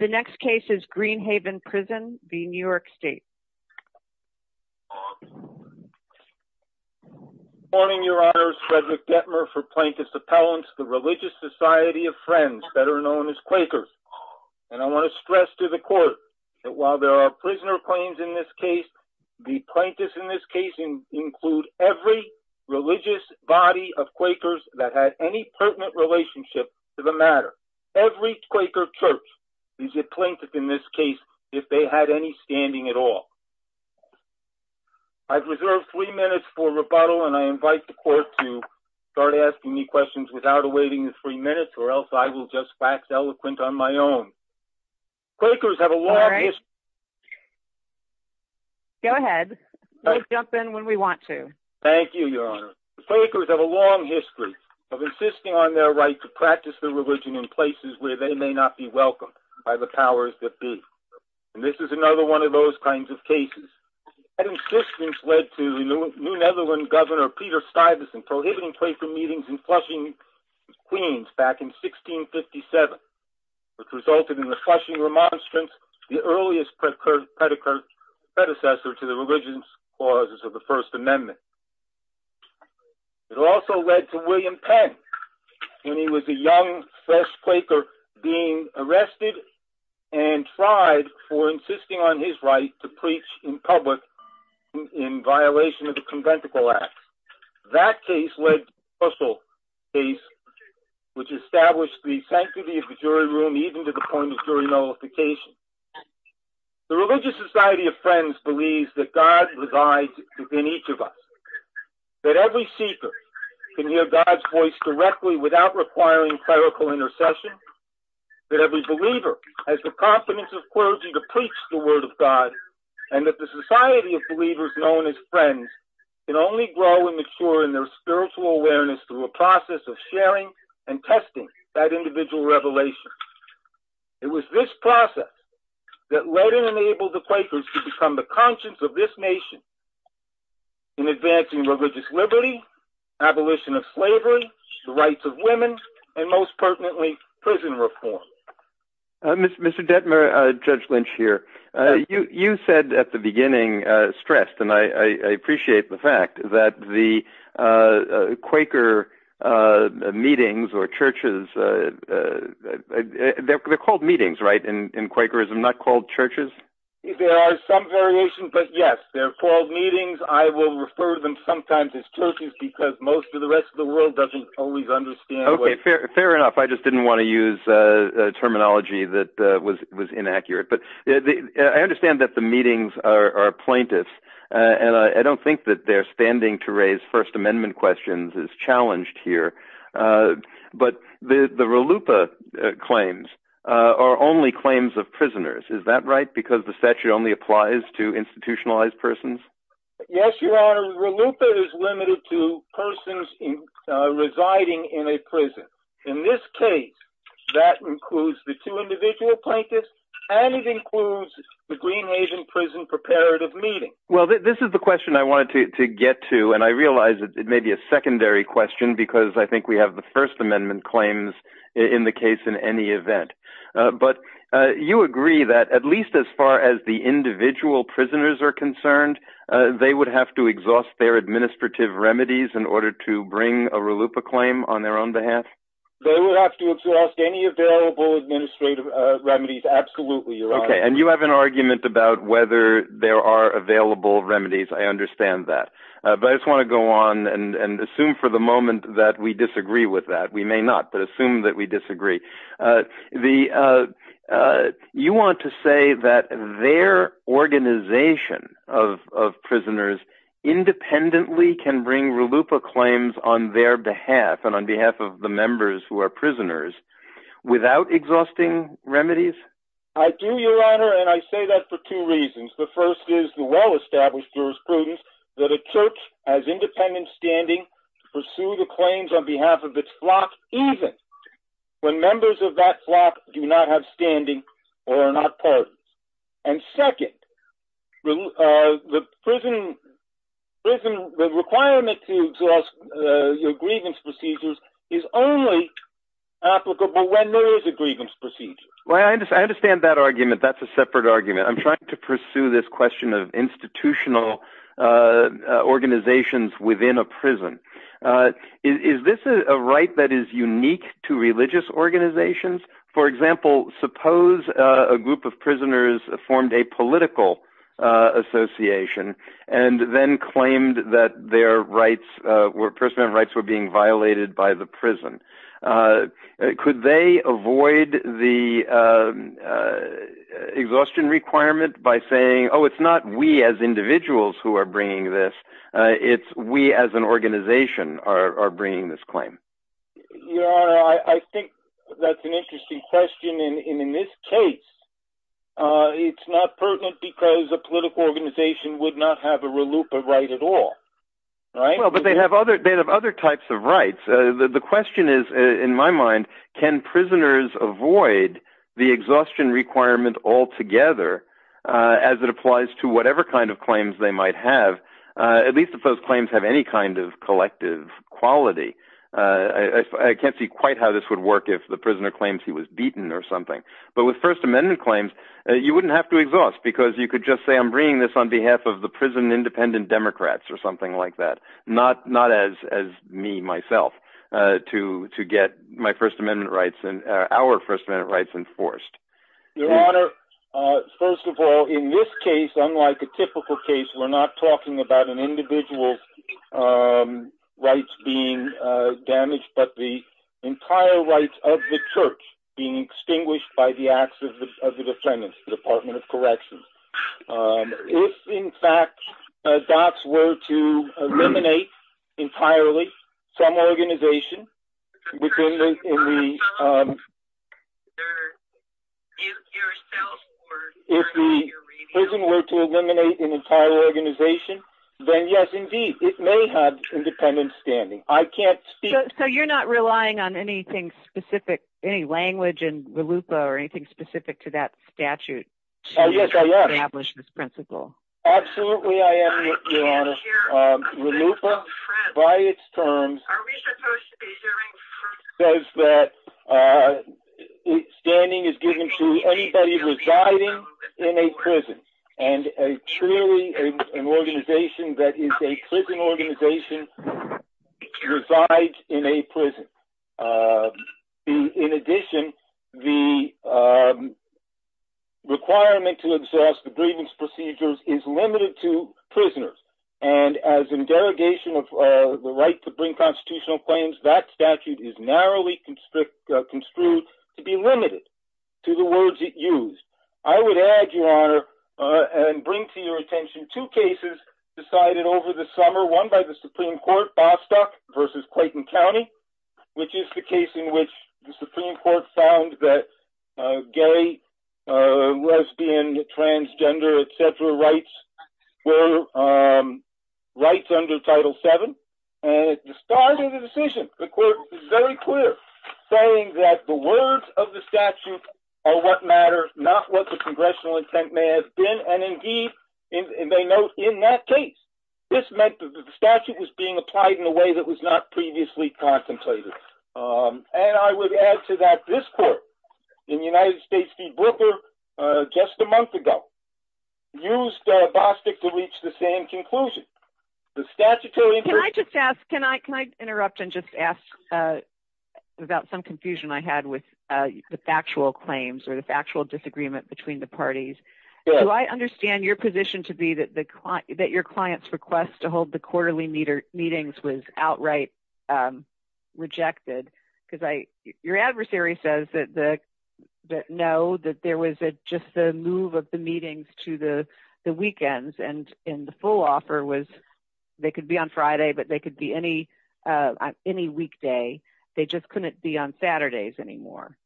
The next case is Green Haven Prison v. New York State Good morning, Your Honors. Frederick Dettmer for Plaintiff's Appellants, the Religious Society of Friends, better known as Quakers. And I want to stress to the Court that while there are prisoner claims in this case, the plaintiffs in this case include every religious body of Quakers that had any standing at all. I've reserved three minutes for rebuttal, and I invite the Court to start asking me questions without awaiting the three minutes, or else I will just fax eloquent on my own. Quakers have a long history of insisting on their right to practice their by the powers that be, and this is another one of those kinds of cases. That insistence led to the New Netherlands Governor Peter Stuyvesant prohibiting Quaker meetings in Flushing, Queens, back in 1657, which resulted in the Flushing Remonstrance, the earliest predecessor to the religious clauses of the First Amendment. It also led to William Penn, when he was a young, fresh Quaker, being arrested and tried for insisting on his right to preach in public in violation of the Conventicle Act. That case led to the Russell case, which established the sanctity of the jury room, even to the point of jury nullification. The Religious Society of Friends believes that God resides within each of us, that every seeker can hear God's voice directly without requiring clerical intercession, that every believer has the competence of clergy to preach the Word of God, and that the Society of Believers, known as Friends, can only grow and mature in their spiritual awareness through a process of sharing and testing that individual revelation. It was this process that led and enabled the Quakers to become the conscience of this nation in advancing religious liberty, abolition of slavery, the rights of women, and, most pertinently, prison reform. Mr. Detmer, Judge Lynch here. You said at the beginning, stressed, and I appreciate the fact that the Quaker meetings or churches, they're called meetings, right, in Quakerism, not called churches? There are some variations, but yes, they're called meetings. I will refer to them sometimes as churches because most of the rest of the world doesn't always understand. Okay, fair enough. I just didn't want to use a terminology that was inaccurate, but I understand that the meetings are plaintiffs, and I don't think that their standing to raise First Amendment questions is challenged here, but the RLUIPA claims are only claims of prisoners. Is that right? Because the statute only applies to institutionalized persons? Yes, Your Honor, RLUIPA is limited to persons residing in a prison. In this case, that includes the two individual plaintiffs, and it includes the Green Asian prison preparative meeting. Well, this is the question I question because I think we have the First Amendment claims in the case in any event, but you agree that at least as far as the individual prisoners are concerned, they would have to exhaust their administrative remedies in order to bring a RLUIPA claim on their own behalf? They would have to exhaust any available administrative remedies, absolutely, Your Honor. Okay, and you have an argument about whether there are available remedies. I understand that, but I just want to go on and assume for the moment that we disagree with that. We may not, but assume that we disagree. You want to say that their organization of prisoners independently can bring RLUIPA claims on their behalf and on behalf of the members who are prisoners without exhausting remedies? I do, Your Honor, and I say that for two reasons. The first is the well-established jurisprudence that a church has independent standing to pursue the claims on behalf of its flock, even when members of that flock do not have standing or are not parties. And second, the requirement to exhaust your grievance procedures is only applicable when there is a grievance procedure. Well, I understand that argument. That's a separate argument. I'm trying to pursue this question of institutional organizations within a prison. Is this a right that is unique to religious organizations? For example, suppose a group of prisoners formed a political association and then claimed that their rights, their personal rights were being violated by the prison. Could they avoid the exhaustion requirement by saying, oh, it's not we as individuals who are bringing this, it's we as an organization are bringing this claim? Your Honor, I think that's an interesting question. And in this case, it's not pertinent because a political organization would not have a RLUIPA right at all, right? Well, but they have other types of rights. The question is, in my mind, can prisoners avoid the exhaustion requirement altogether, as it applies to whatever kind of claims they might have, at least if those claims have any kind of collective quality? I can't see quite how this would work if the prisoner claims he was beaten or something. But with First Amendment claims, you wouldn't have to exhaust because you could just say, I'm bringing this on behalf of the independent Democrats or something like that. Not as me, myself, to get my First Amendment rights and our First Amendment rights enforced. Your Honor, first of all, in this case, unlike a typical case, we're not talking about an individual's rights being damaged, but the entire rights of the church being extinguished by the acts of the defendants, the Department of Corrections. If, in fact, DOTS were to eliminate entirely some organization, if the prison were to eliminate an entire organization, then yes, indeed, it may have independent standing. I can't speak... So you're not relying on anything specific, any language in RLUIPA or anything specific to that statute to establish this principle? Absolutely, I am, Your Honor. RLUIPA, by its terms, says that standing is given to anybody residing in a prison. And truly, an organization that is a prison organization resides in a prison. In addition, the requirement to exhaust the grievance procedures is limited to prisoners. And as in derogation of the right to bring constitutional claims, that statute is narrowly construed to be limited to the words it used. I would add, Your Honor, and bring to your attention two cases decided over the summer, one by the Supreme Court, v. Clayton County, which is the case in which the Supreme Court found that gay, lesbian, transgender, etc. rights were rights under Title VII. And at the start of the decision, the Court was very clear, saying that the words of the statute are what matter, not what the congressional intent may have been. And indeed, they note in that case, this meant that the was not previously contemplated. And I would add to that, this Court, in the United States v. Brooker, just a month ago, used Bostick to reach the same conclusion. The statutory... Can I just ask, can I interrupt and just ask, without some confusion I had with the factual claims or the factual disagreement between the parties? Do I understand your position to be that your client's request to hold the quarterly meetings was outright rejected? Because your adversary says that no, that there was just the move of the meetings to the weekends, and the full offer was they could be on Friday, but they could be any weekday. They just couldn't be on Saturdays anymore.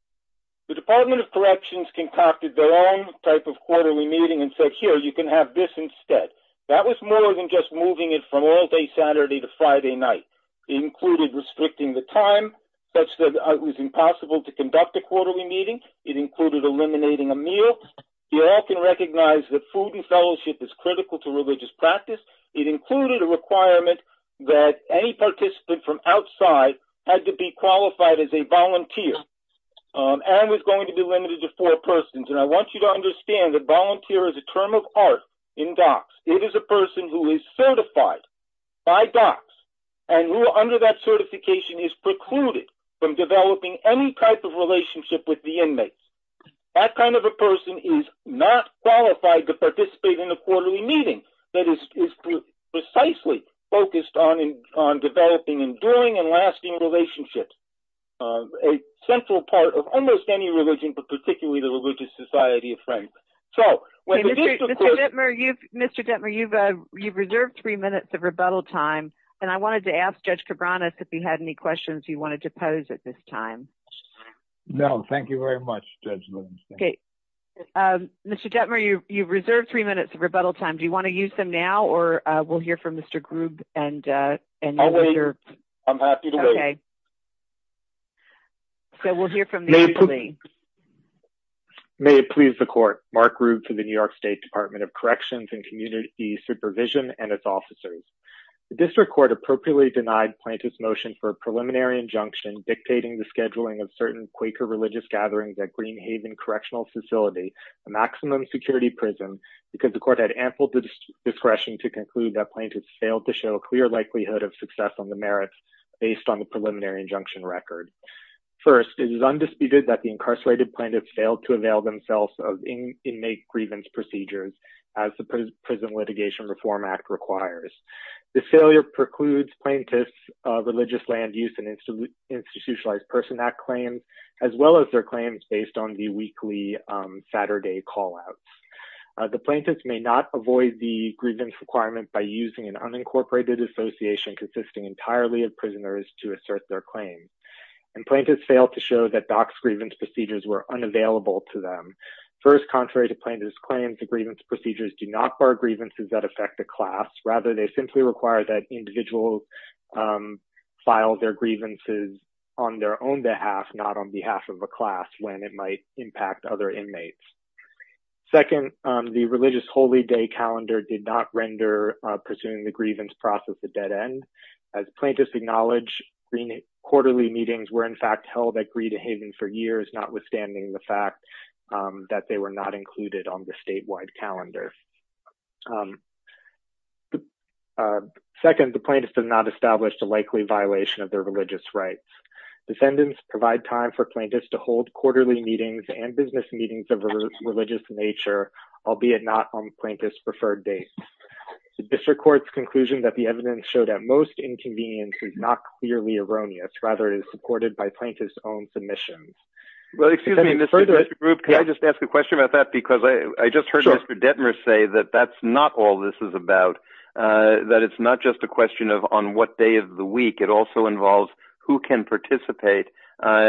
The Department of Corrections concocted their own type of quarterly meeting and said, here, you can have this instead. That was more than just moving it from all-day Saturday to Friday night. It included restricting the time, such that it was impossible to conduct a quarterly meeting. It included eliminating a meal. We all can recognize that food and fellowship is critical to religious practice. It included a requirement that any participant from outside had to be qualified as a volunteer, and was going to be limited to four persons. And I want you to in DOCS. It is a person who is certified by DOCS, and who under that certification is precluded from developing any type of relationship with the inmates. That kind of a person is not qualified to participate in a quarterly meeting that is precisely focused on developing enduring and lasting relationships, a central part of almost any religion, but particularly the Religious Society of Franklin. Mr. Detmer, you've reserved three minutes of rebuttal time, and I wanted to ask Judge Cabranes if you had any questions you wanted to pose at this time. No, thank you very much, Judge Williams. Mr. Detmer, you've reserved three minutes of rebuttal time. Do you want to use them now, or we'll hear from Mr. Grubb? I'll wait. I'm happy to wait. Okay, so we'll hear from the attorney. May it please the court. Mark Grubb for the New York State Department of Corrections and Community Supervision and its officers. The district court appropriately denied plaintiffs' motion for a preliminary injunction dictating the scheduling of certain Quaker religious gatherings at Green Haven Correctional Facility, a maximum security prison, because the court had ample discretion to conclude that plaintiffs failed to show a clear likelihood of success on the merits based on the preliminary injunction record. First, it is undisputed that the incarcerated plaintiffs failed to avail themselves of inmate grievance procedures as the Prison Litigation Reform Act requires. The failure precludes plaintiffs' religious land use and Institutionalized Person Act claims, as well as their claims based on the weekly Saturday call-outs. The plaintiffs may not avoid the grievance requirement by using an unincorporated association consisting entirely of prisoners to assert their claim, and plaintiffs failed to show that DOC's grievance procedures were unavailable to them. First, contrary to plaintiffs' claims, the grievance procedures do not bar grievances that affect the class. Rather, they simply require that individuals file their grievances on their own behalf, not on behalf of a class when it might other inmates. Second, the religious holy day calendar did not render pursuing the grievance process a dead end. As plaintiffs acknowledge, quarterly meetings were, in fact, held at Greed Haven for years, notwithstanding the fact that they were not included on the statewide calendar. Second, the plaintiffs did not establish the likely violation of their religious rights. Descendants provide time for plaintiffs to hold quarterly meetings and business meetings of religious nature, albeit not on plaintiffs' preferred dates. The district court's conclusion that the evidence showed at most inconvenience is not clearly erroneous. Rather, it is supported by plaintiffs' own submissions. Well, excuse me, Mr. Group, can I just ask a question about that? Because I just heard Mr. Detmer say that that's not all this is about, that it's not just a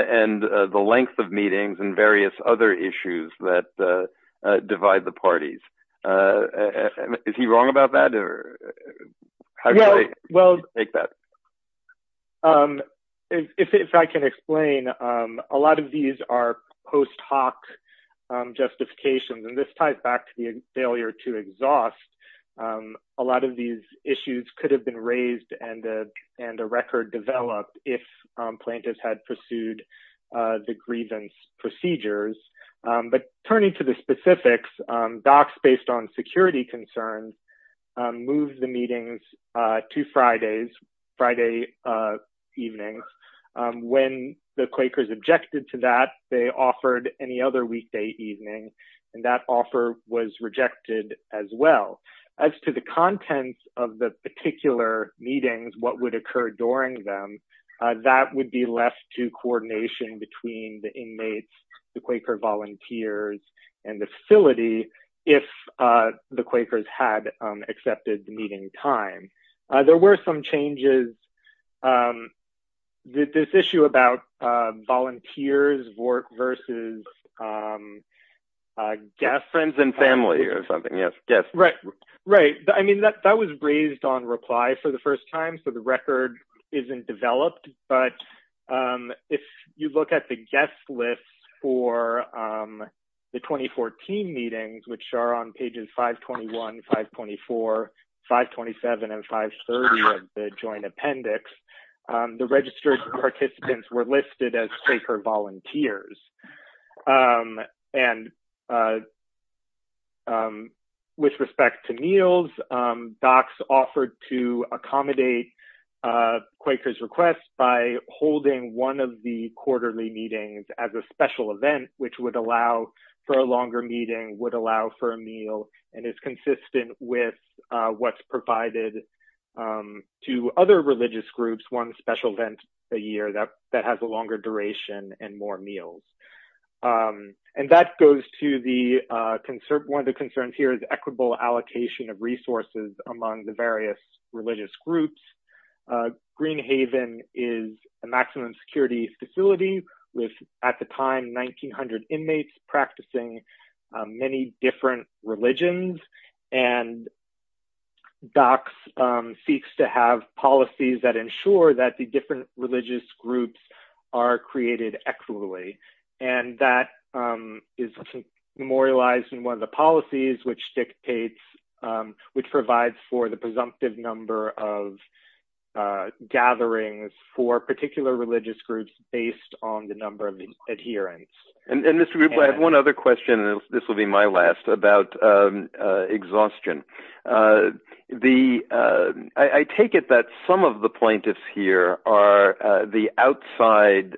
and the length of meetings and various other issues that divide the parties. Is he wrong about that? Well, if I can explain, a lot of these are post hoc justifications, and this ties back to the failure to exhaust. A lot of these issues could have been raised and a record developed if plaintiffs had pursued the grievance procedures. But turning to the specifics, docs, based on security concerns, moved the meetings to Fridays, Friday evenings. When the Quakers objected to that, they offered any other weekday evening, and that offer was rejected as well. As to the contents of the particular meetings, what would occur during them, that would be left to coordination between the inmates, the Quaker volunteers, and the facility if the Quakers had accepted the meeting time. There were some changes. This issue about volunteers versus guests. Friends and family or something. Yes, guests. Right. Right. I mean, that was raised on reply for the first time, so the record isn't developed. But if you look at the guest list for the 2014 meetings, which are on pages 521, 524, 527, and 530 of the joint appendix, the registered participants were listed as Quaker volunteers. And with respect to meals, docs offered to accommodate Quaker's request by holding one of the quarterly meetings as a special event, which would allow for a longer meeting, would allow for a meal, and is consistent with what's provided to other religious groups, one special event a year that has a longer duration and more meals. One of the concerns here is equitable allocation of resources among the various religious groups. Green Haven is a maximum security facility with, at the time, 1,900 inmates practicing many different religions, and docs seeks to have policies that ensure that the different religious groups are created equitably. And that is memorialized in one of the policies, which provides for the presumptive number of gatherings for particular religious groups based on the number of adherents. And Mr. Rupp, I have one other question, and this will be my last, about exhaustion. I take it that some of the plaintiffs here are the outside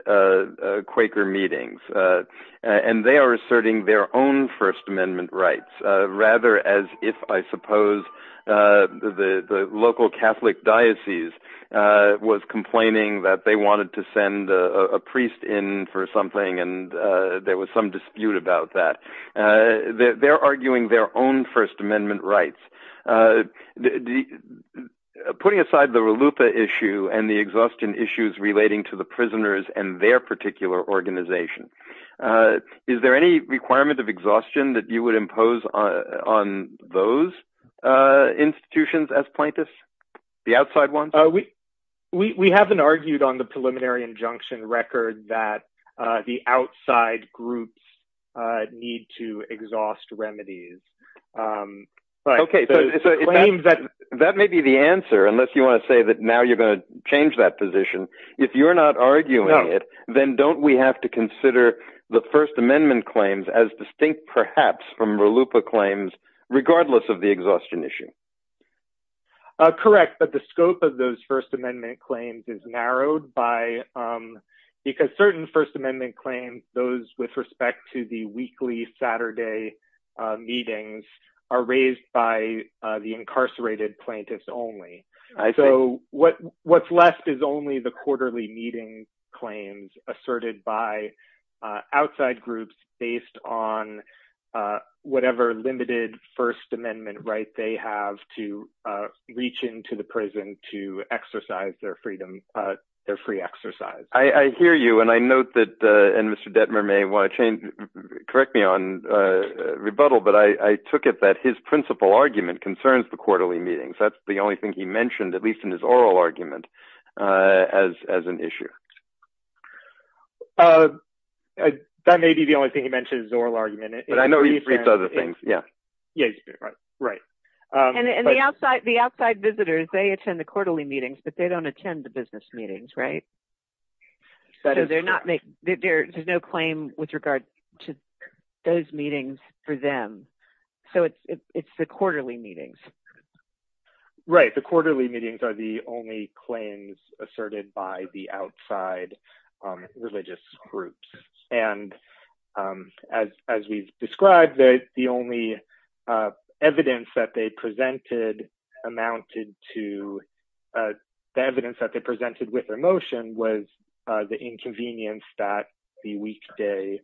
Quaker meetings, and they are asserting their own First Amendment rights, rather as if, I suppose, the local Catholic diocese was complaining that they wanted to send a priest in for something, and there was some dispute about that. They're arguing their own First Amendment rights. Putting aside the RLUPA issue and the exhaustion issues relating to the prisoners and their particular organization, is there any requirement of exhaustion that you would impose on those institutions as plaintiffs, the outside ones? We haven't argued on the record that the outside groups need to exhaust remedies. Okay, that may be the answer, unless you want to say that now you're going to change that position. If you're not arguing it, then don't we have to consider the First Amendment claims as distinct, perhaps, from RLUPA claims, regardless of the exhaustion issue? Correct, but the scope of those First Amendment claims is because certain First Amendment claims, those with respect to the weekly Saturday meetings, are raised by the incarcerated plaintiffs only. So what's left is only the quarterly meeting claims asserted by outside groups based on whatever limited First Amendment right they have to reach into the prison to exercise their freedom, their free exercise. I hear you, and I note that, and Mr. Detmer may want to correct me on rebuttal, but I took it that his principal argument concerns the quarterly meetings. That's the only thing he mentioned, at least in his oral argument, as an issue. That may be the only thing he mentioned, but I know he briefed other things, yeah. Yeah, right, and the outside visitors, they attend the quarterly meetings, but they don't attend the business meetings, right? So there's no claim with regard to those meetings for them, so it's the quarterly meetings. Right, the quarterly meetings are the only claims asserted by the outside religious groups, and as we've described, the only evidence that they presented with emotion was the inconvenience that the weekday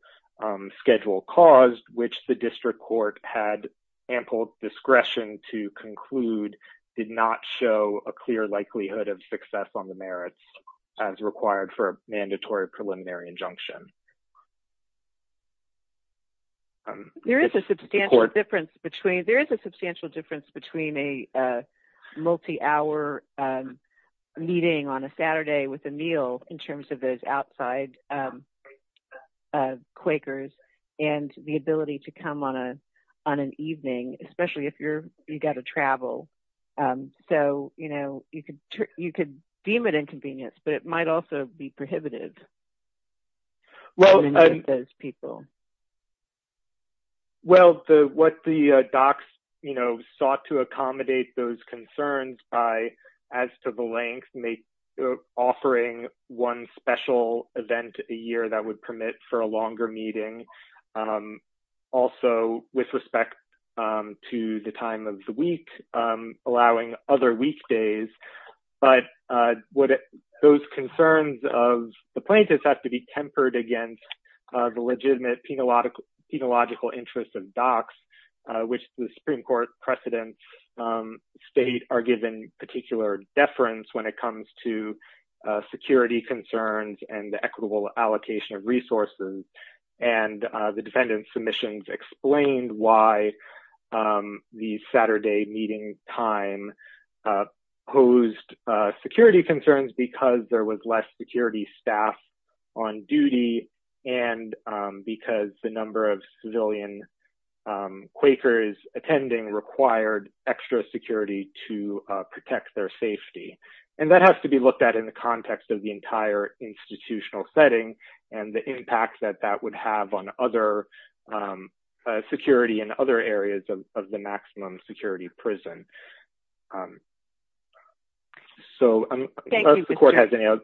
schedule caused, which the district court had ample discretion to conclude did not show a clear likelihood of success on the merits as required for a mandatory preliminary injunction. There is a substantial difference between a multi-hour meeting on a Saturday with a meal in terms of those outside Quakers and the ability to come on an evening, especially if you've got to travel, so you could deem it inconvenience, but it might also be prohibitive for those people. Well, what the docs sought to accommodate those concerns by, as to the length, offering one special event a year that would permit for a longer meeting, also with respect to the time of the week, allowing other weekdays, but those concerns of the plaintiffs have to be tempered against the legitimate penological interest of docs, which the Supreme Court precedents state are given particular deference when it comes to the defendant submissions explained why the Saturday meeting time posed security concerns because there was less security staff on duty and because the number of civilian Quakers attending required extra security to protect their safety, and that has to be looked at in the context of the entire institutional setting and the impact that that would have on other security and other areas of the maximum security prison. So, unless the court has any other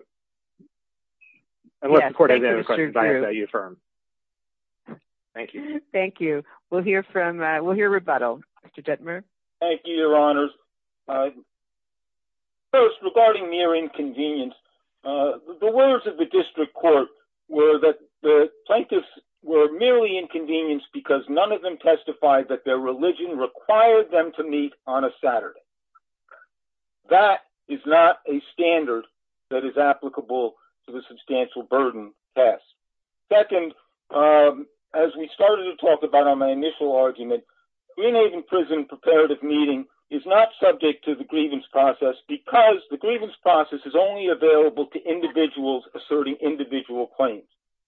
questions, I ask that you affirm. Thank you. Thank you. We'll hear rebuttal. Mr. Detmer. Thank you, Your Honors. First, regarding mere inconvenience, the words of the district court were that the plaintiffs were merely inconvenienced because none of them testified that their religion required them to meet on a Saturday. That is not a standard that is applicable to the substantial burden test. Second, as we started to talk about on my initial argument, Green Haven Prison Preparative Meeting is not subject to the grievance process because the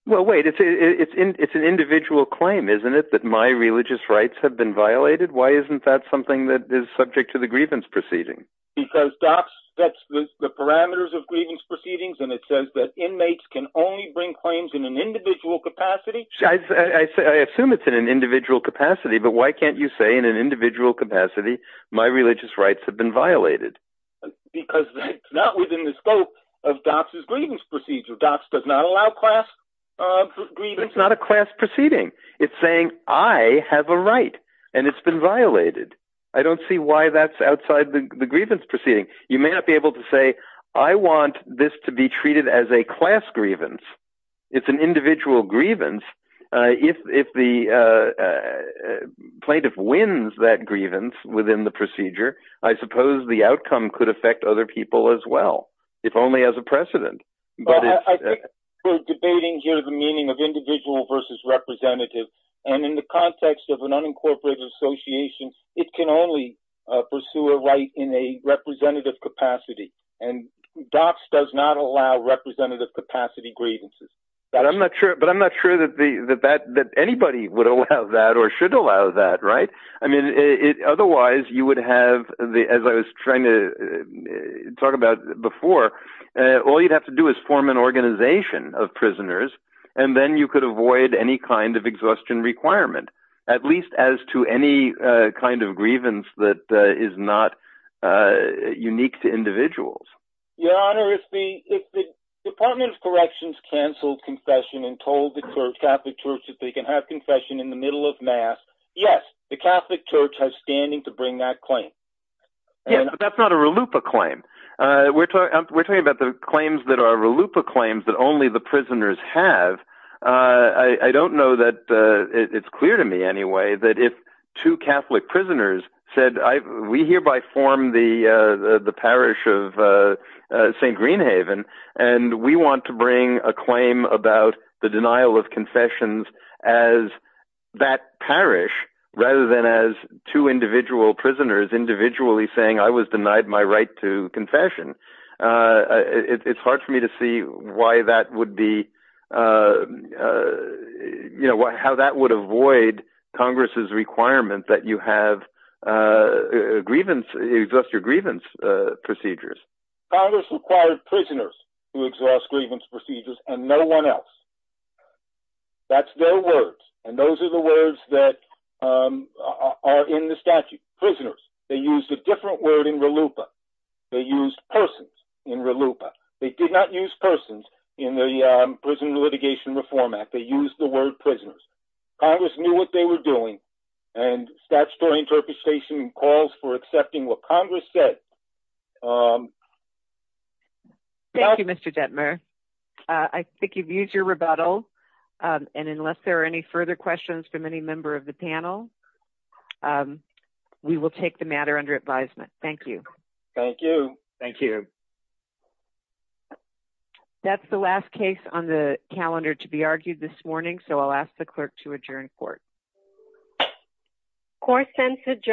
Well, wait. It's an individual claim, isn't it, that my religious rights have been violated? Why isn't that something that is subject to the grievance proceeding? Because DOPS sets the parameters of grievance proceedings, and it says that inmates can only bring claims in an individual capacity. I assume it's in an individual capacity, but why can't you say in an individual capacity my religious rights have been violated? Because it's not within the scope of DOPS's grievance process. It's not a class proceeding. It's saying I have a right, and it's been violated. I don't see why that's outside the grievance proceeding. You may not be able to say, I want this to be treated as a class grievance. It's an individual grievance. If the plaintiff wins that grievance within the procedure, I suppose the outcome could affect other people as well, if only as a precedent. Well, I think we're debating here the meaning of individual versus representative, and in the context of an unincorporated association, it can only pursue a right in a representative capacity, and DOPS does not allow representative capacity grievances. But I'm not sure that anybody would allow that or should allow that, right? I mean, otherwise you would have, as I was trying to talk about before, all you'd have to do is form an organization of prisoners, and then you could avoid any kind of exhaustion requirement, at least as to any kind of grievance that is not unique to individuals. Your Honor, if the Department of Corrections canceled confession and told the Catholic Church that they can have confession in the middle of Mass, yes, the Catholic Church has standing to bring that claim. Yeah, but that's not a RLUIPA claim. We're talking about the claims that are RLUIPA claims that only the prisoners have. I don't know that it's clear to me anyway that if two Catholic prisoners said, we hereby form the parish of St. Greenhaven, and we want to bring a claim about the denial of confessions as that parish, rather than as two individual prisoners individually saying, I was denied my right to confession. It's hard for me to see why that would be, you know, how that would avoid Congress's requirement that you have grievance, exhaust your grievance procedures. Congress required prisoners who exhaust grievance procedures, and no one else. That's their words, and those are the words that are in the statute. Prisoners. They used a different word in RLUIPA. They used persons in RLUIPA. They did not use persons in the Prison Litigation Reform Act. They used the word prisoners. Congress knew what they were doing, and statutory interpretation calls for accepting what Congress said. Thank you, Mr. Detmer. I think you've used your rebuttal, and unless there are any further questions from any member of the panel, we will take the matter under advisement. Thank you. Thank you. Thank you. That's the last case on the calendar to be argued this morning, so I'll ask the clerk to call the roll. Court sends adjourned.